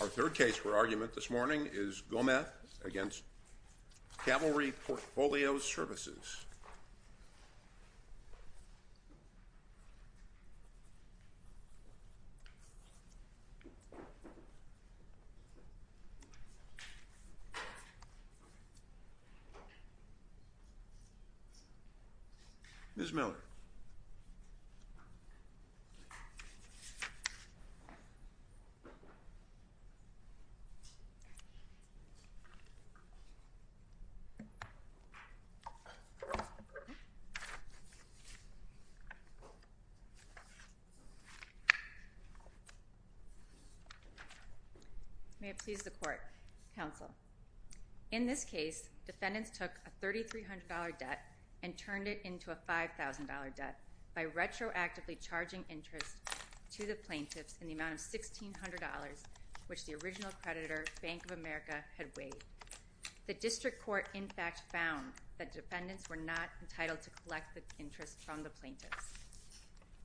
Our third case for argument this morning is Gomez v. Cavalry Portfolio Services. Ms. Miller. May it please the court, counsel. In this case, defendants took a $3,300 debt and turned it into a $5,000 debt by retroactively charging interest to the plaintiffs in the amount of $1,600, which the original creditor, Bank of America, had waived. The district court, in fact, found that defendants were not entitled to collect the interest from the plaintiffs.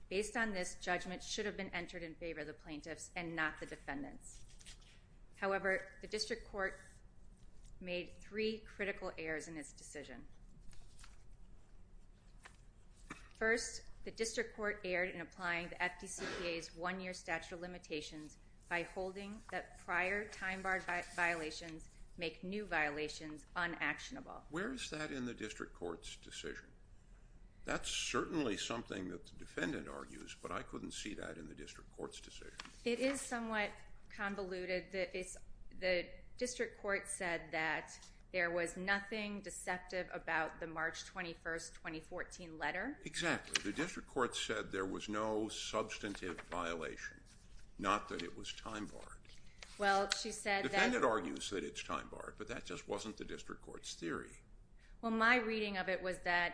Based on this, judgment should have been entered in favor of the plaintiffs and not the defendants. However, the district court made three critical errors in its decision. First, the district court erred in applying the FDCPA's one-year statute of limitations by holding that prior time-barred violations make new violations unactionable. Where is that in the district court's decision? That's certainly something that the defendant argues, but I couldn't see that in the district court's decision. It is somewhat convoluted. The district court said that there was nothing deceptive about the March 21, 2014 letter. Exactly. The district court said there was no substantive violation, not that it was time-barred. The defendant argues that it's time-barred, but that just wasn't the district court's theory. Well, my reading of it was that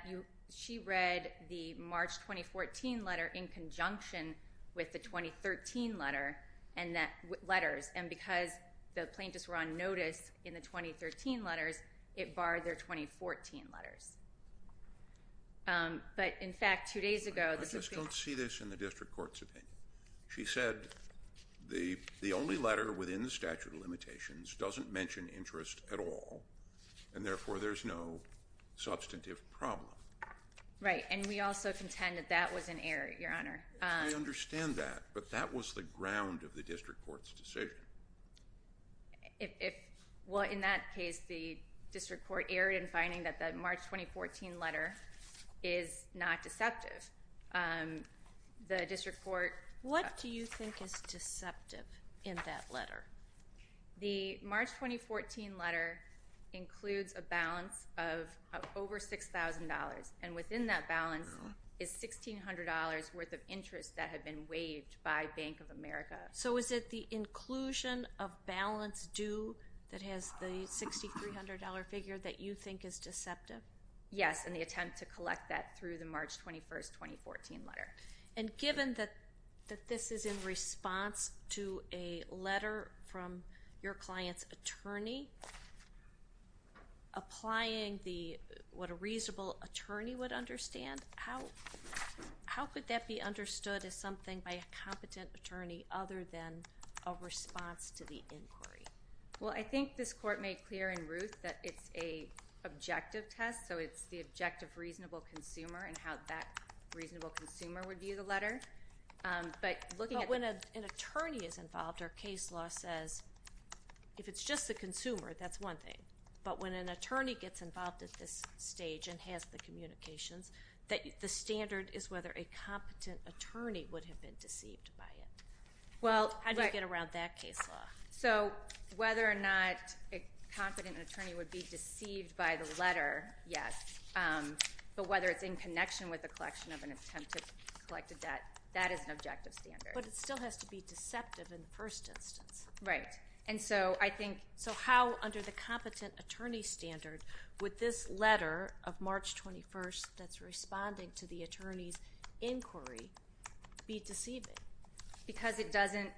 she read the March 2014 letter in conjunction with the 2013 letter and because the plaintiffs were on notice in the 2013 letters, it barred their 2014 letters. I just don't see this in the district court's opinion. She said the only letter within the statute of limitations doesn't mention interest at all, and therefore there's no substantive problem. Right, and we also contend that that was an error, Your Honor. I understand that, but that was the ground of the district court's decision. Well, in that case, the district court erred in finding that the March 2014 letter is not deceptive. What do you think is deceptive in that letter? The March 2014 letter includes a balance of over $6,000, and within that balance is $1,600 worth of interest that had been waived by Bank of America. So is it the inclusion of balance due that has the $6,300 figure that you think is deceptive? Yes, in the attempt to collect that through the March 21, 2014 letter. And given that this is in response to a letter from your client's attorney, applying what a reasonable attorney would understand, how could that be understood as something by a competent attorney other than a response to the inquiry? Well, I think this court made clear in Ruth that it's an objective test, so it's the objective reasonable consumer and how that reasonable consumer would view the letter. But when an attorney is involved, our case law says if it's just the consumer, that's one thing. But when an attorney gets involved at this stage and has the communications, the standard is whether a competent attorney would have been deceived by it. How do you get around that case law? So whether or not a competent attorney would be deceived by the letter, yes. But whether it's in connection with the collection of an attempt to collect a debt, that is an objective standard. But it still has to be deceptive in the first instance. Right. And so I think so how under the competent attorney standard would this letter of March 21 that's responding to the attorney's inquiry be deceiving? Because it doesn't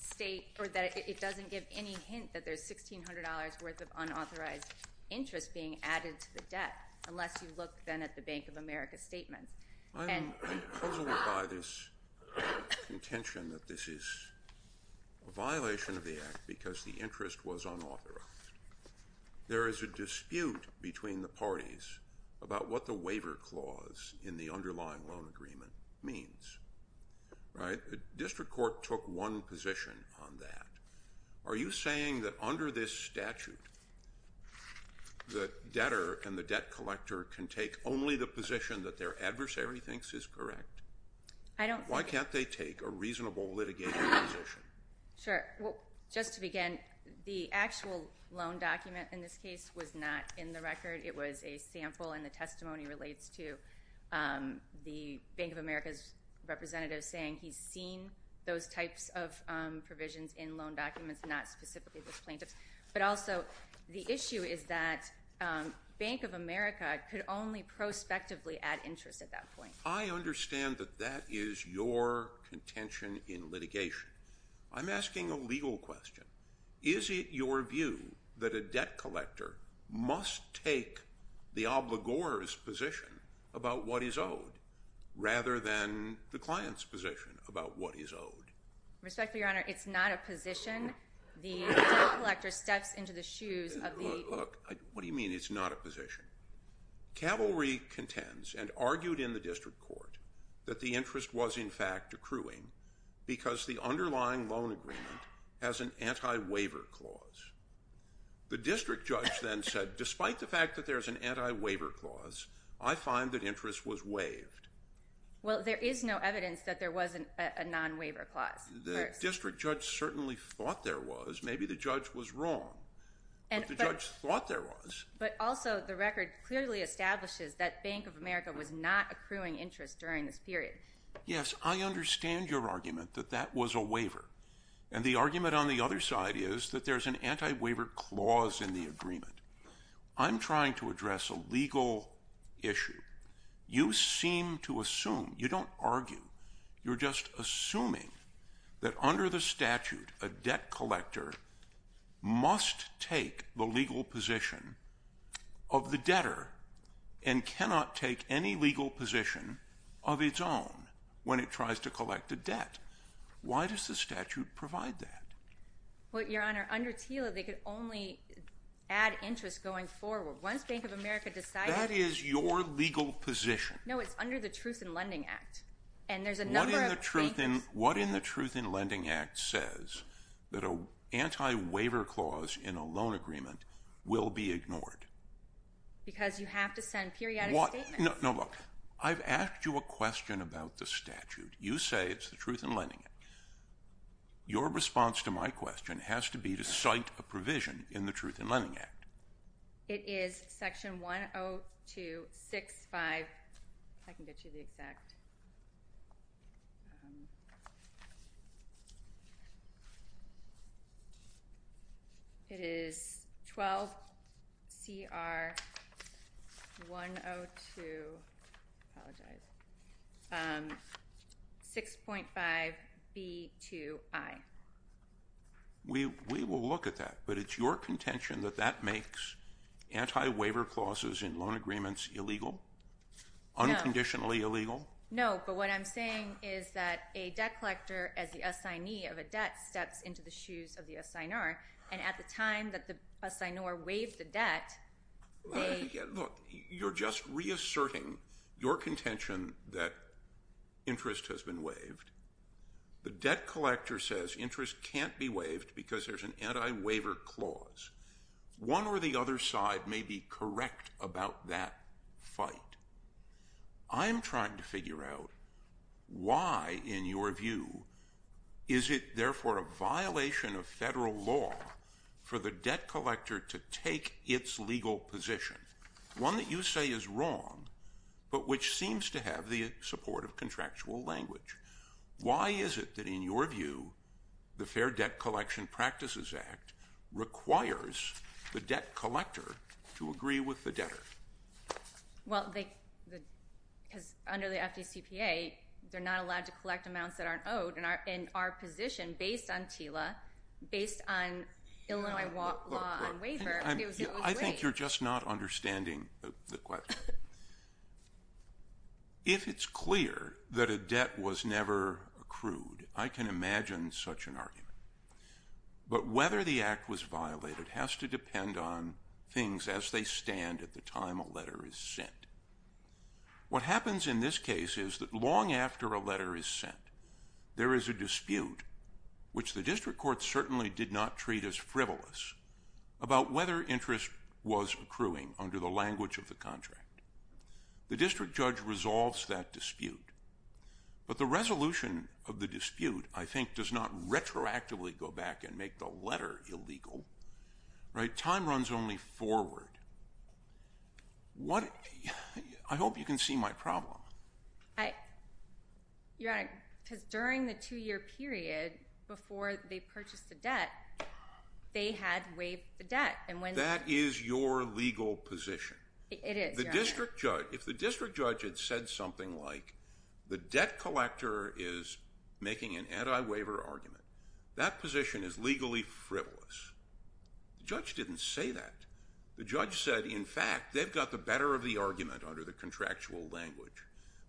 state or it doesn't give any hint that there's $1,600 worth of unauthorized interest being added to the debt unless you look then at the Bank of America statements. I'm puzzled by this contention that this is a violation of the Act because the interest was unauthorized. There is a dispute between the parties about what the waiver clause in the underlying loan agreement means. Right. The district court took one position on that. Are you saying that under this statute the debtor and the debt collector can take only the position that their adversary thinks is correct? I don't think so. Why can't they take a reasonable litigation position? Sure. Well, just to begin, the actual loan document in this case was not in the record. It was a sample, and the testimony relates to the Bank of America's representative saying he's seen those types of provisions in loan documents, not specifically this plaintiff's. But also the issue is that Bank of America could only prospectively add interest at that point. I understand that that is your contention in litigation. I'm asking a legal question. Is it your view that a debt collector must take the obligor's position about what is owed rather than the client's position about what is owed? Respectfully, Your Honor, it's not a position. The debt collector steps into the shoes of the ---- Look, what do you mean it's not a position? Cavalry contends and argued in the district court that the interest was, in fact, accruing because the underlying loan agreement has an anti-waiver clause. The district judge then said, despite the fact that there's an anti-waiver clause, I find that interest was waived. Well, there is no evidence that there was a non-waiver clause. The district judge certainly thought there was. Maybe the judge was wrong. But the judge thought there was. But also, the record clearly establishes that Bank of America was not accruing interest during this period. Yes, I understand your argument that that was a waiver. And the argument on the other side is that there's an anti-waiver clause in the agreement. I'm trying to address a legal issue. You seem to assume. You don't argue. You're just assuming that under the statute, a debt collector must take the legal position of the debtor and cannot take any legal position of its own when it tries to collect a debt. Why does the statute provide that? Well, Your Honor, under TILA, they could only add interest going forward. Once Bank of America decided ---- That is your legal position. No, it's under the Truth in Lending Act. And there's a number of ---- What in the Truth in Lending Act says that an anti-waiver clause in a loan agreement will be ignored? Because you have to send periodic statements. No, look. I've asked you a question about the statute. You say it's the Truth in Lending Act. Your response to my question has to be to cite a provision in the Truth in Lending Act. It is section 10265. If I can get you the exact. It is 12CR102. Apologize. 6.5B2I. We will look at that, but it's your contention that that makes anti-waiver clauses in loan agreements illegal? No. Unconditionally illegal? No, but what I'm saying is that a debt collector, as the assignee of a debt, steps into the shoes of the assignor, and at the time that the assignor waived the debt, they ---- Look, you're just reasserting your contention that interest has been waived. The debt collector says interest can't be waived because there's an anti-waiver clause. One or the other side may be correct about that fight. I'm trying to figure out why, in your view, is it therefore a violation of federal law for the debt collector to take its legal position, one that you say is wrong but which seems to have the support of contractual language? Why is it that, in your view, the Fair Debt Collection Practices Act requires the debt collector to agree with the debtor? Well, because under the FDCPA, they're not allowed to collect amounts that aren't owed, and our position, based on TILA, based on Illinois law on waiver, is that we agree. I think you're just not understanding the question. If it's clear that a debt was never accrued, I can imagine such an argument. But whether the act was violated has to depend on things as they stand at the time a letter is sent. What happens in this case is that long after a letter is sent, there is a dispute, which the district court certainly did not treat as frivolous, about whether interest was accruing under the language of the contract. The district judge resolves that dispute. But the resolution of the dispute, I think, does not retroactively go back and make the letter illegal. Time runs only forward. I hope you can see my problem. Your Honor, because during the two-year period before they purchased the debt, they had waived the debt. That is your legal position. It is, Your Honor. If the district judge had said something like, the debt collector is making an anti-waiver argument, that position is legally frivolous. The judge didn't say that. The judge said, in fact, they've got the better of the argument under the contractual language.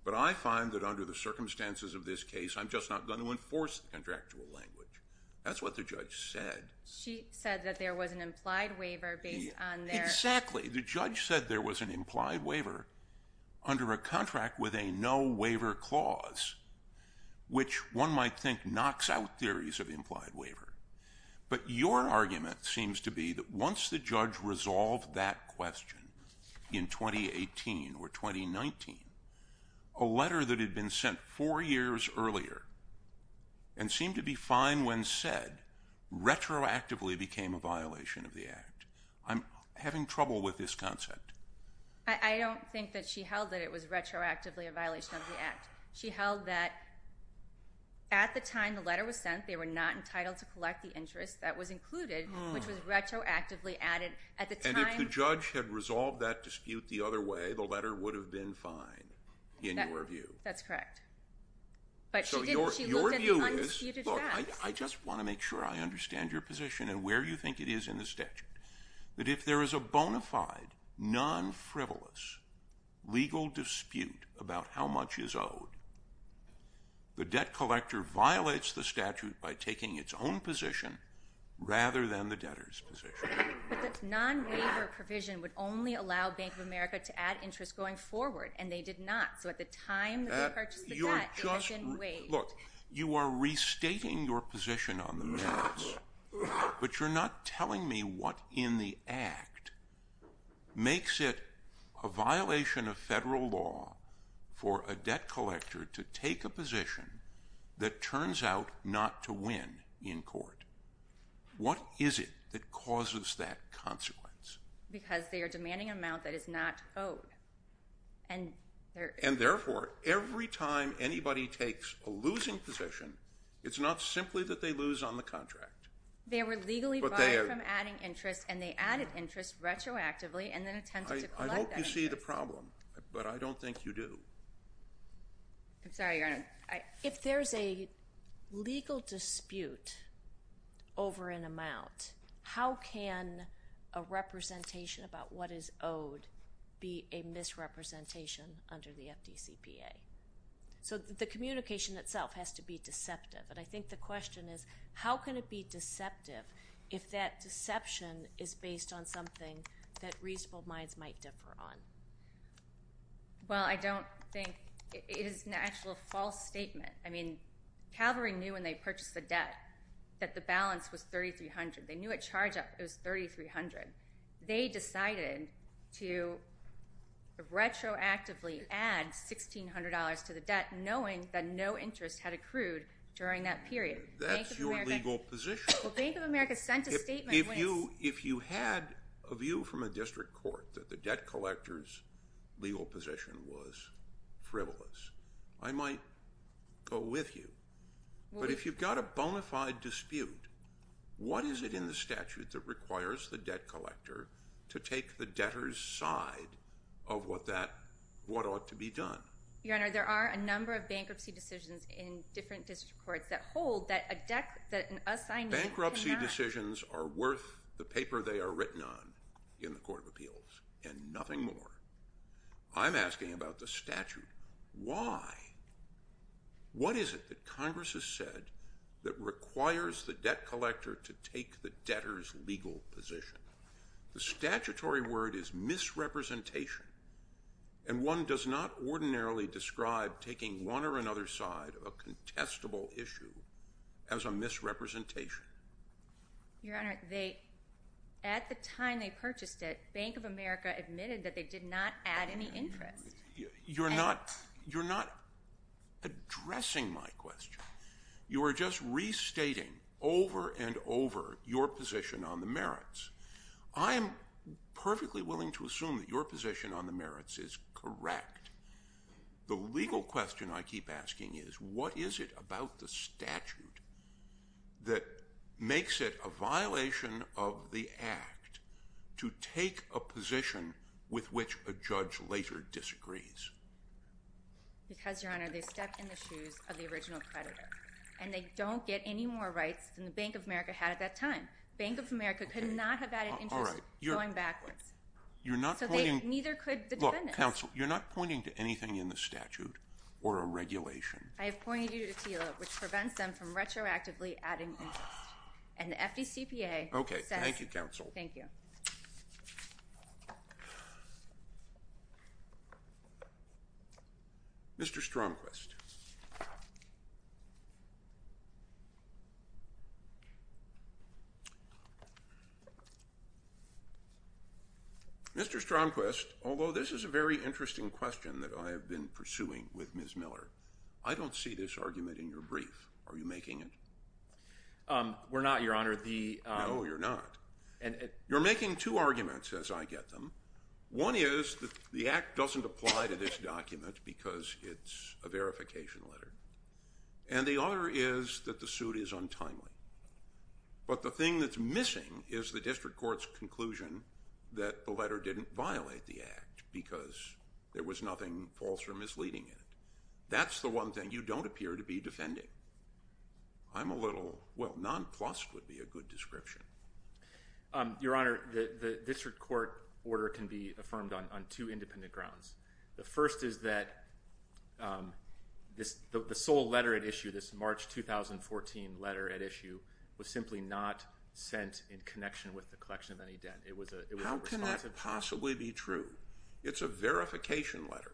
But I find that under the circumstances of this case, I'm just not going to enforce the contractual language. That's what the judge said. She said that there was an implied waiver based on their… Exactly. The judge said there was an implied waiver under a contract with a no-waiver clause, which one might think knocks out theories of implied waiver. But your argument seems to be that once the judge resolved that question in 2018 or 2019, a letter that had been sent four years earlier and seemed to be fine when said, retroactively became a violation of the Act. I'm having trouble with this concept. I don't think that she held that it was retroactively a violation of the Act. She held that at the time the letter was sent, they were not entitled to collect the interest that was included, which was retroactively added. And if the judge had resolved that dispute the other way, the letter would have been fine, in your view. That's correct. But she looked at the undisputed facts. Look, I just want to make sure I understand your position and where you think it is in the statute. That if there is a bona fide, non-frivolous legal dispute about how much is owed, the debt collector violates the statute by taking its own position rather than the debtor's position. But the non-waiver provision would only allow Bank of America to add interest going forward, and they did not. So at the time that they purchased the debt, it has been waived. Look, you are restating your position on the merits, but you're not telling me what in the Act makes it a violation of federal law for a debt collector to take a position that turns out not to win in court. What is it that causes that consequence? Because they are demanding an amount that is not owed. And therefore, every time anybody takes a losing position, it's not simply that they lose on the contract. They were legally barred from adding interest, and they added interest retroactively and then attempted to collect that interest. I hope you see the problem, but I don't think you do. I'm sorry, Your Honor. If there's a legal dispute over an amount, how can a representation about what is owed be a misrepresentation under the FDCPA? So the communication itself has to be deceptive, and I think the question is, how can it be deceptive if that deception is based on something that reasonable minds might differ on? Well, I don't think it is an actual false statement. I mean, Calvary knew when they purchased the debt that the balance was $3,300. They knew at charge up it was $3,300. They decided to retroactively add $1,600 to the debt knowing that no interest had accrued during that period. That's your legal position. Bank of America sent a statement when it's... If you had a view from a district court that the debt collector's legal position was frivolous, I might go with you. But if you've got a bona fide dispute, what is it in the statute that requires the debt collector to take the debtor's side of what ought to be done? Your Honor, there are a number of bankruptcy decisions in different district courts that hold that an assignee cannot... The paper they are written on in the Court of Appeals and nothing more. I'm asking about the statute. Why? What is it that Congress has said that requires the debt collector to take the debtor's legal position? The statutory word is misrepresentation, and one does not ordinarily describe taking one or another side of a contestable issue as a misrepresentation. Your Honor, at the time they purchased it, Bank of America admitted that they did not add any interest. You're not addressing my question. You are just restating over and over your position on the merits. I am perfectly willing to assume that your position on the merits is correct. The legal question I keep asking is, what is it about the statute that makes it a violation of the Act to take a position with which a judge later disagrees? Because, Your Honor, they step in the shoes of the original creditor, and they don't get any more rights than the Bank of America had at that time. Bank of America could not have added interest going backwards. You're not pointing... You're not pointing to anything in the statute or a regulation. I have pointed you to TILA, which prevents them from retroactively adding interest. And the FDCPA says... Okay, thank you, counsel. Thank you. Mr. Stromquist. Mr. Stromquist, although this is a very interesting question that I have been pursuing with Ms. Miller, I don't see this argument in your brief. Are you making it? We're not, Your Honor. No, you're not. You're making two arguments, as I get them. One is that the Act doesn't apply to this document because it's a verification document. And the other is that the suit is untimely. But the thing that's missing is the district court's conclusion that the letter didn't violate the Act because there was nothing false or misleading in it. That's the one thing you don't appear to be defending. I'm a little... Well, nonplussed would be a good description. Your Honor, the district court order can be affirmed on two independent grounds. The first is that the sole letter at issue, this March 2014 letter at issue, was simply not sent in connection with the collection of any debt. How can that possibly be true? It's a verification letter.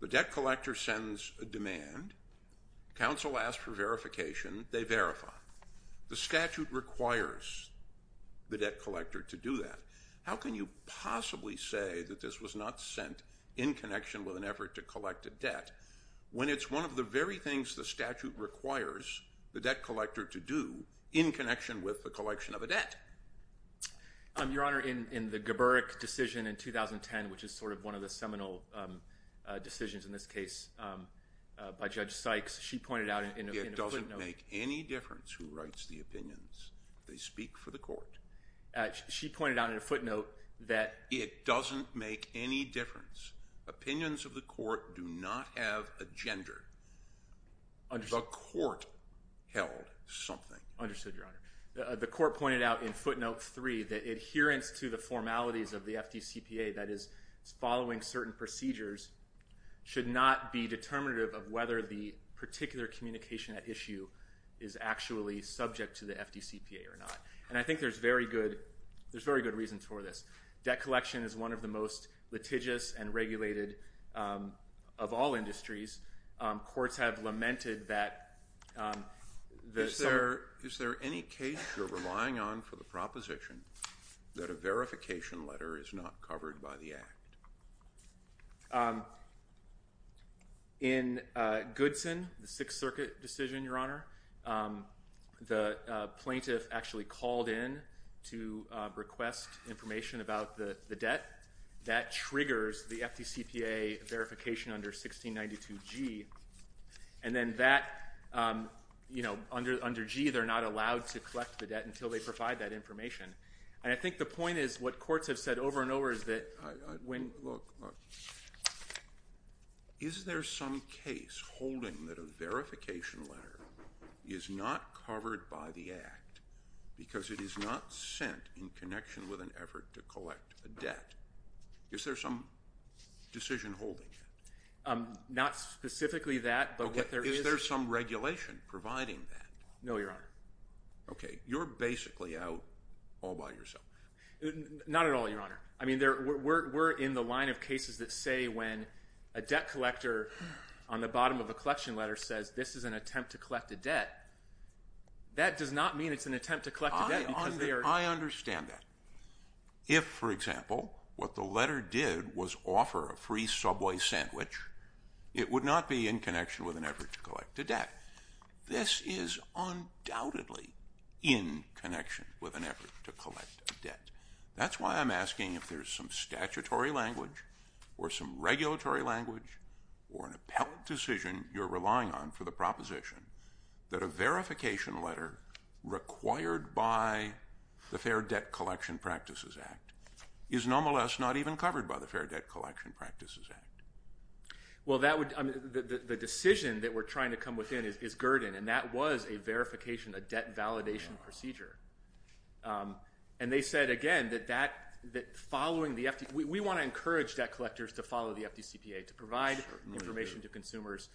The debt collector sends a demand. Counsel asks for verification. They verify. The statute requires the debt collector to do that. How can you possibly say that this was not sent in connection with an effort to collect a debt when it's one of the very things the statute requires the debt collector to do in connection with the collection of a debt? Your Honor, in the Geburik decision in 2010, which is sort of one of the seminal decisions in this case by Judge Sykes, she pointed out in a footnote... It doesn't make any difference who writes the opinions. They speak for the court. She pointed out in a footnote that... It doesn't make any difference. Opinions of the court do not have a gender. The court held something. Understood, Your Honor. The court pointed out in footnote three that adherence to the formalities of the FDCPA, that is, following certain procedures, should not be determinative of whether the particular communication at issue is actually subject to the FDCPA or not. And I think there's very good reasons for this. Debt collection is one of the most litigious and regulated of all industries. Courts have lamented that... Is there any case you're relying on for the proposition that a verification letter is not covered by the Act? In Goodson, the Sixth Circuit decision, Your Honor, the plaintiff actually called in to request information about the debt. That triggers the FDCPA verification under 1692G. And then that, you know, under G, they're not allowed to collect the debt until they provide that information. And I think the point is what courts have said over and over is that when... Look, look. Is there some case holding that a verification letter is not covered by the Act because it is not sent in connection with an effort to collect a debt? Is there some decision holding it? Not specifically that, but what there is... Okay, is there some regulation providing that? No, Your Honor. Okay. You're basically out all by yourself. Not at all, Your Honor. I mean, we're in the line of cases that say when a debt collector on the bottom of a collection letter says this is an attempt to collect a debt. That does not mean it's an attempt to collect a debt because they are... I understand that. If, for example, what the letter did was offer a free Subway sandwich, it would not be in connection with an effort to collect a debt. This is undoubtedly in connection with an effort to collect a debt. That's why I'm asking if there's some statutory language or some regulatory language or an appellate decision you're relying on for the proposition that a verification letter required by the Fair Debt Collection Practices Act is nonetheless not even covered by the Fair Debt Collection Practices Act. Well, that would... The decision that we're trying to come within is Gurdon, and that was a verification, a debt validation procedure. And they said, again, that following the FD... We want to encourage debt collectors to follow the FDCPA to provide information to consumers,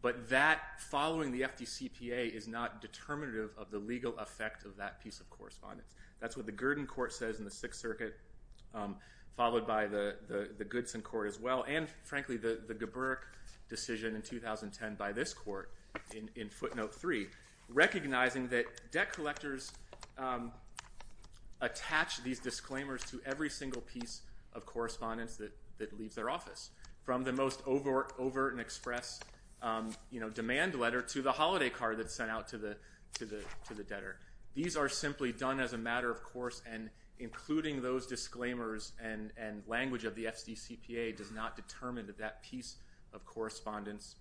but that following the FDCPA is not determinative of the legal effect of that piece of correspondence. That's what the Gurdon court says in the Sixth Circuit, followed by the Goodson court as well, and, frankly, the Geburk decision in 2010 by this court in footnote three, recognizing that debt collectors attach these disclaimers to every single piece of correspondence that leaves their office, from the most overt and express demand letter to the holiday card that's sent out to the debtor. These are simply done as a matter of course, and including those disclaimers and language of the FDCPA does not determine that that piece of correspondence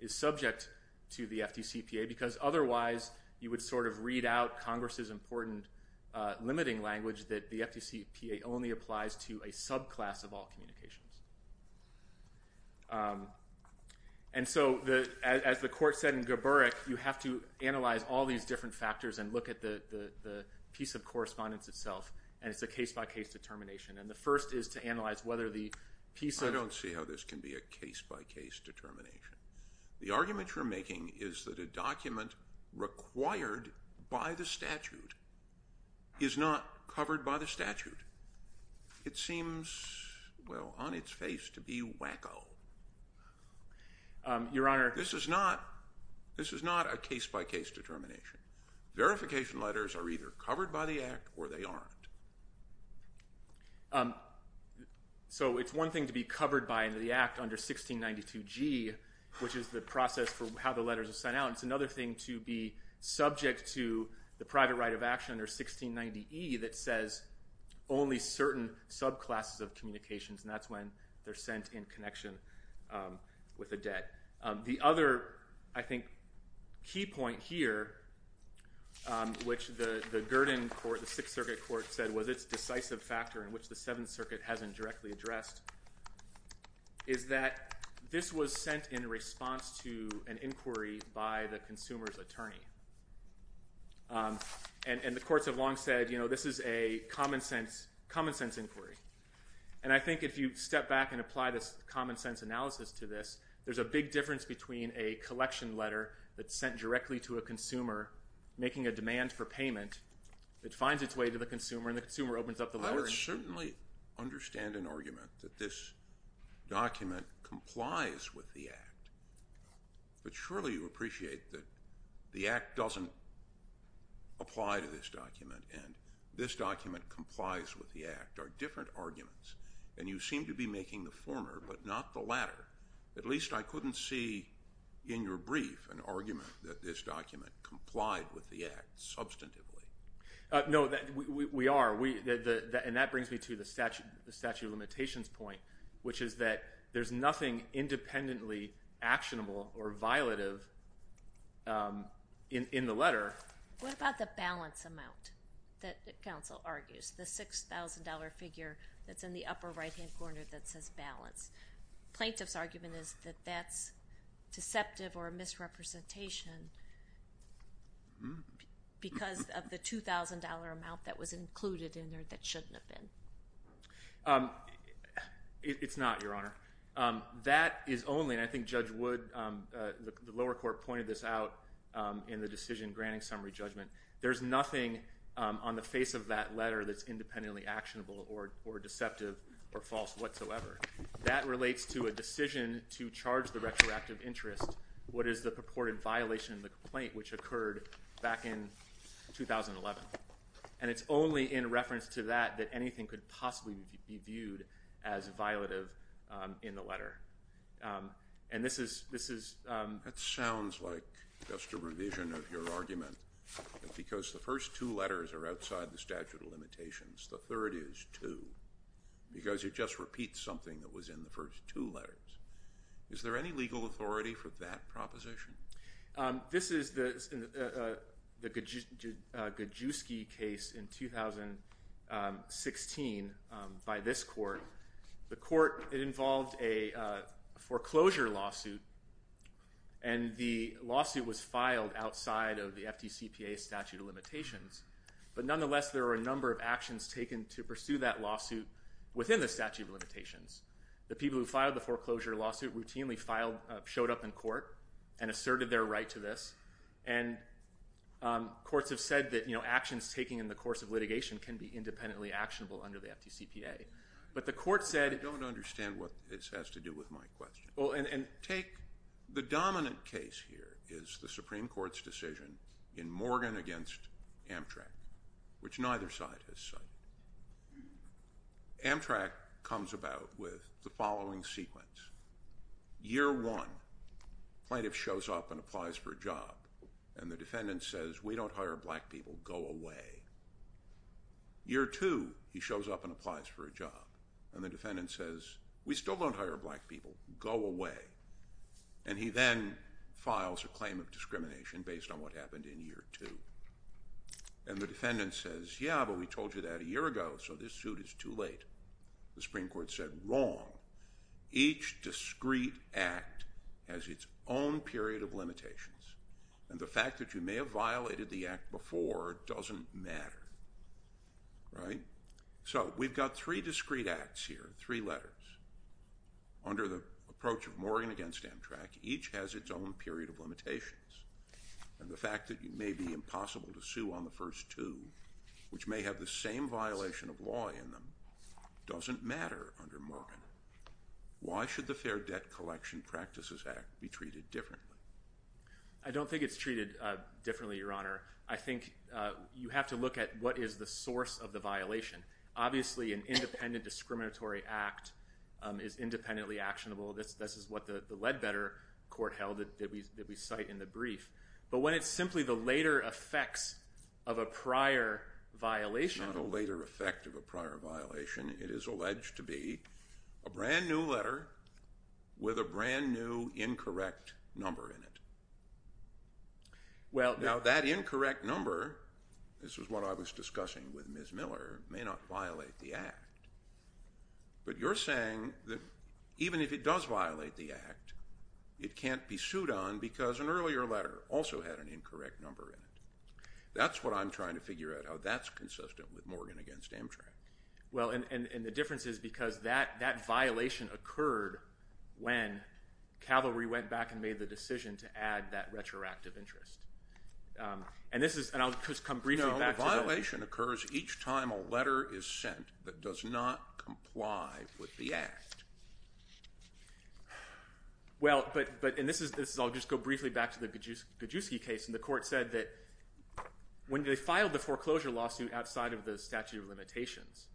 is subject to the FDCPA, because otherwise you would sort of read out Congress's important limiting language that the FDCPA only applies to a subclass of all communications. And so, as the court said in Geburk, you have to analyze all these different factors and look at the piece of correspondence itself, and it's a case-by-case determination. And the first is to analyze whether the piece of... I don't see how this can be a case-by-case determination. The argument you're making is that a document required by the statute is not covered by the statute. It seems, well, on its face to be wacko. Your Honor... This is not a case-by-case determination. Verification letters are either covered by the Act or they aren't. So it's one thing to be covered by the Act under 1692G, which is the process for how the letters are sent out. It's another thing to be subject to the private right of action under 1690E that says only certain subclasses of communications, and that's when they're sent in connection with a debt. The other, I think, key point here, which the 6th Circuit Court said was its decisive factor in which the 7th Circuit hasn't directly addressed, is that this was sent in response to an inquiry by the consumer's attorney. And the courts have long said, you know, this is a common-sense inquiry. And I think if you step back and apply this common-sense analysis to this, there's a big difference between a collection letter that's sent directly to a consumer making a demand for payment that finds its way to the consumer and the consumer opens up the letter... I would certainly understand an argument that this document complies with the Act, but surely you appreciate that the Act doesn't apply to this document and this document complies with the Act are different arguments, and you seem to be making the former but not the latter. At least I couldn't see in your brief an argument that this document complied with the Act substantively. No, we are, and that brings me to the statute of limitations point, which is that there's nothing independently actionable or violative in the letter. What about the balance amount that counsel argues, the $6,000 figure that's in the upper right-hand corner that says balance? Plaintiff's argument is that that's deceptive or a misrepresentation because of the $2,000 amount that was included in there that shouldn't have been. It's not, Your Honor. That is only, and I think Judge Wood, the lower court pointed this out in the decision granting summary judgment, there's nothing on the face of that letter that's independently actionable or deceptive or false whatsoever. That relates to a decision to charge the retroactive interest what is the purported violation of the complaint, which occurred back in 2011, and it's only in reference to that that anything could possibly be viewed as violative in the letter. That sounds like just a revision of your argument, but because the first two letters are outside the statute of limitations, the third is too, because it just repeats something that was in the first two letters. Is there any legal authority for that proposition? This is the Gajewski case in 2016 by this court. The court involved a foreclosure lawsuit, and the lawsuit was filed outside of the FDCPA statute of limitations, but nonetheless there were a number of actions taken to pursue that lawsuit within the statute of limitations. The people who filed the foreclosure lawsuit routinely showed up in court and asserted their right to this, and courts have said that actions taken in the course of litigation can be independently actionable under the FDCPA, but the court said- I don't understand what this has to do with my question. The dominant case here is the Supreme Court's decision in Morgan against Amtrak, which neither side has cited. Amtrak comes about with the following sequence. Year one, plaintiff shows up and applies for a job, and the defendant says, we don't hire black people, go away. Year two, he shows up and applies for a job, and the defendant says, we still don't hire black people, go away, and he then files a claim of discrimination based on what happened in year two, and the defendant says, yeah, but we told you that a year ago, so this suit is too late. The Supreme Court said, wrong. Each discrete act has its own period of limitations, and the fact that you may have violated the act before doesn't matter, right? So we've got three discrete acts here, three letters. Under the approach of Morgan against Amtrak, each has its own period of limitations, and the fact that it may be impossible to sue on the first two, which may have the same violation of law in them, doesn't matter under Morgan. Why should the Fair Debt Collection Practices Act be treated differently? I don't think it's treated differently, Your Honor. I think you have to look at what is the source of the violation. Obviously, an independent discriminatory act is independently actionable. This is what the Ledbetter court held that we cite in the brief, but when it's simply the later effects of a prior violation. It's not a later effect of a prior violation. It is alleged to be a brand-new letter with a brand-new incorrect number in it. Now, that incorrect number, this is what I was discussing with Ms. Miller, may not violate the act, but you're saying that even if it does violate the act, it can't be sued on because an earlier letter also had an incorrect number in it. That's what I'm trying to figure out, how that's consistent with Morgan against Amtrak. Well, and the difference is because that violation occurred when Calvary went back and made the decision to add that retroactive interest. And this is, and I'll just come briefly back to that. No, the violation occurs each time a letter is sent that does not comply with the act. Well, but, and this is, I'll just go briefly back to the Gajewski case, and the court said that when they filed the foreclosure lawsuit outside of the statute of limitations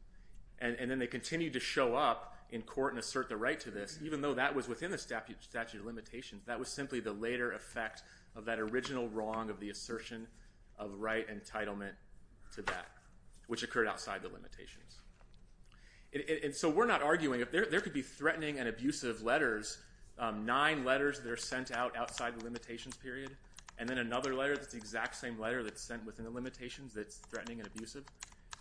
and then they continued to show up in court and assert the right to this, even though that was within the statute of limitations, that was simply the later effect of that original wrong of the assertion of right entitlement to that, which occurred outside the limitations. And so we're not arguing, there could be threatening and abusive letters, nine letters that are sent out outside the limitations period, and then another letter that's the exact same letter that's sent within the limitations that's threatening and abusive.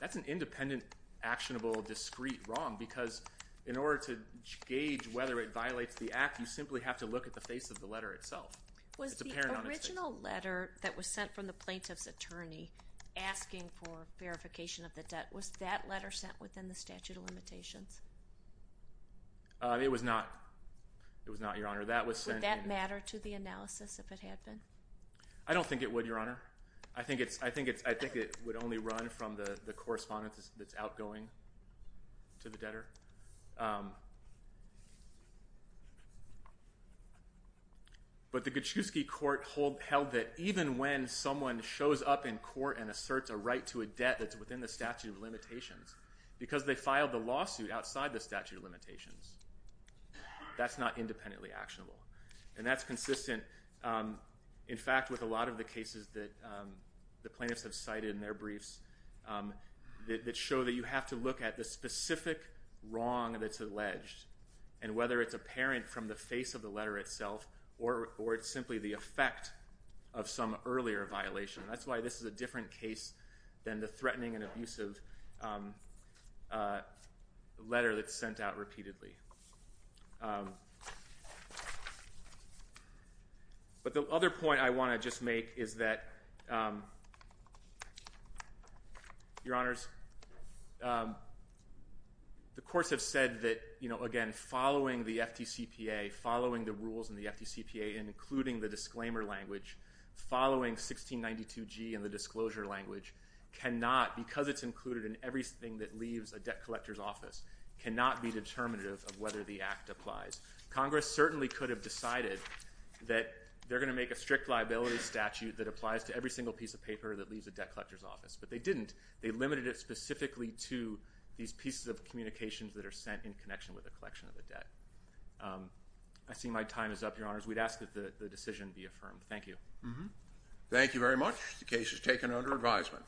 That's an independent, actionable, discrete wrong because in order to gauge whether it violates the act, you simply have to look at the face of the letter itself. Was the original letter that was sent from the plaintiff's attorney asking for verification of the debt, was that letter sent within the statute of limitations? It was not, Your Honor. Would that matter to the analysis if it had been? I don't think it would, Your Honor. I think it would only run from the correspondence that's outgoing to the debtor. But the Gajewski court held that even when someone shows up in court and asserts a right to a debt that's within the statute of limitations, because they filed the lawsuit outside the statute of limitations, that's not independently actionable. And that's consistent, in fact, with a lot of the cases that the plaintiffs have cited in their briefs that show that you have to look at the specific wrong that's alleged, and whether it's apparent from the face of the letter itself or it's simply the effect of some earlier violation. That's why this is a different case than the threatening and abusive letter that's sent out repeatedly. But the other point I want to just make is that, Your Honors, the courts have said that, again, following the FDCPA, following the rules in the FDCPA, including the disclaimer language, following 1692G and the disclosure language, cannot, because it's included in everything that leaves a debt collector's office, cannot be determinative of whether the act applies. Congress certainly could have decided that they're going to make a strict liability statute that applies to every single piece of paper that leaves a debt collector's office. But they didn't. They limited it specifically to these pieces of communications that are sent in connection with the collection of the debt. I see my time is up, Your Honors. We'd ask that the decision be affirmed. Thank you. Thank you very much. The case is taken under advisement.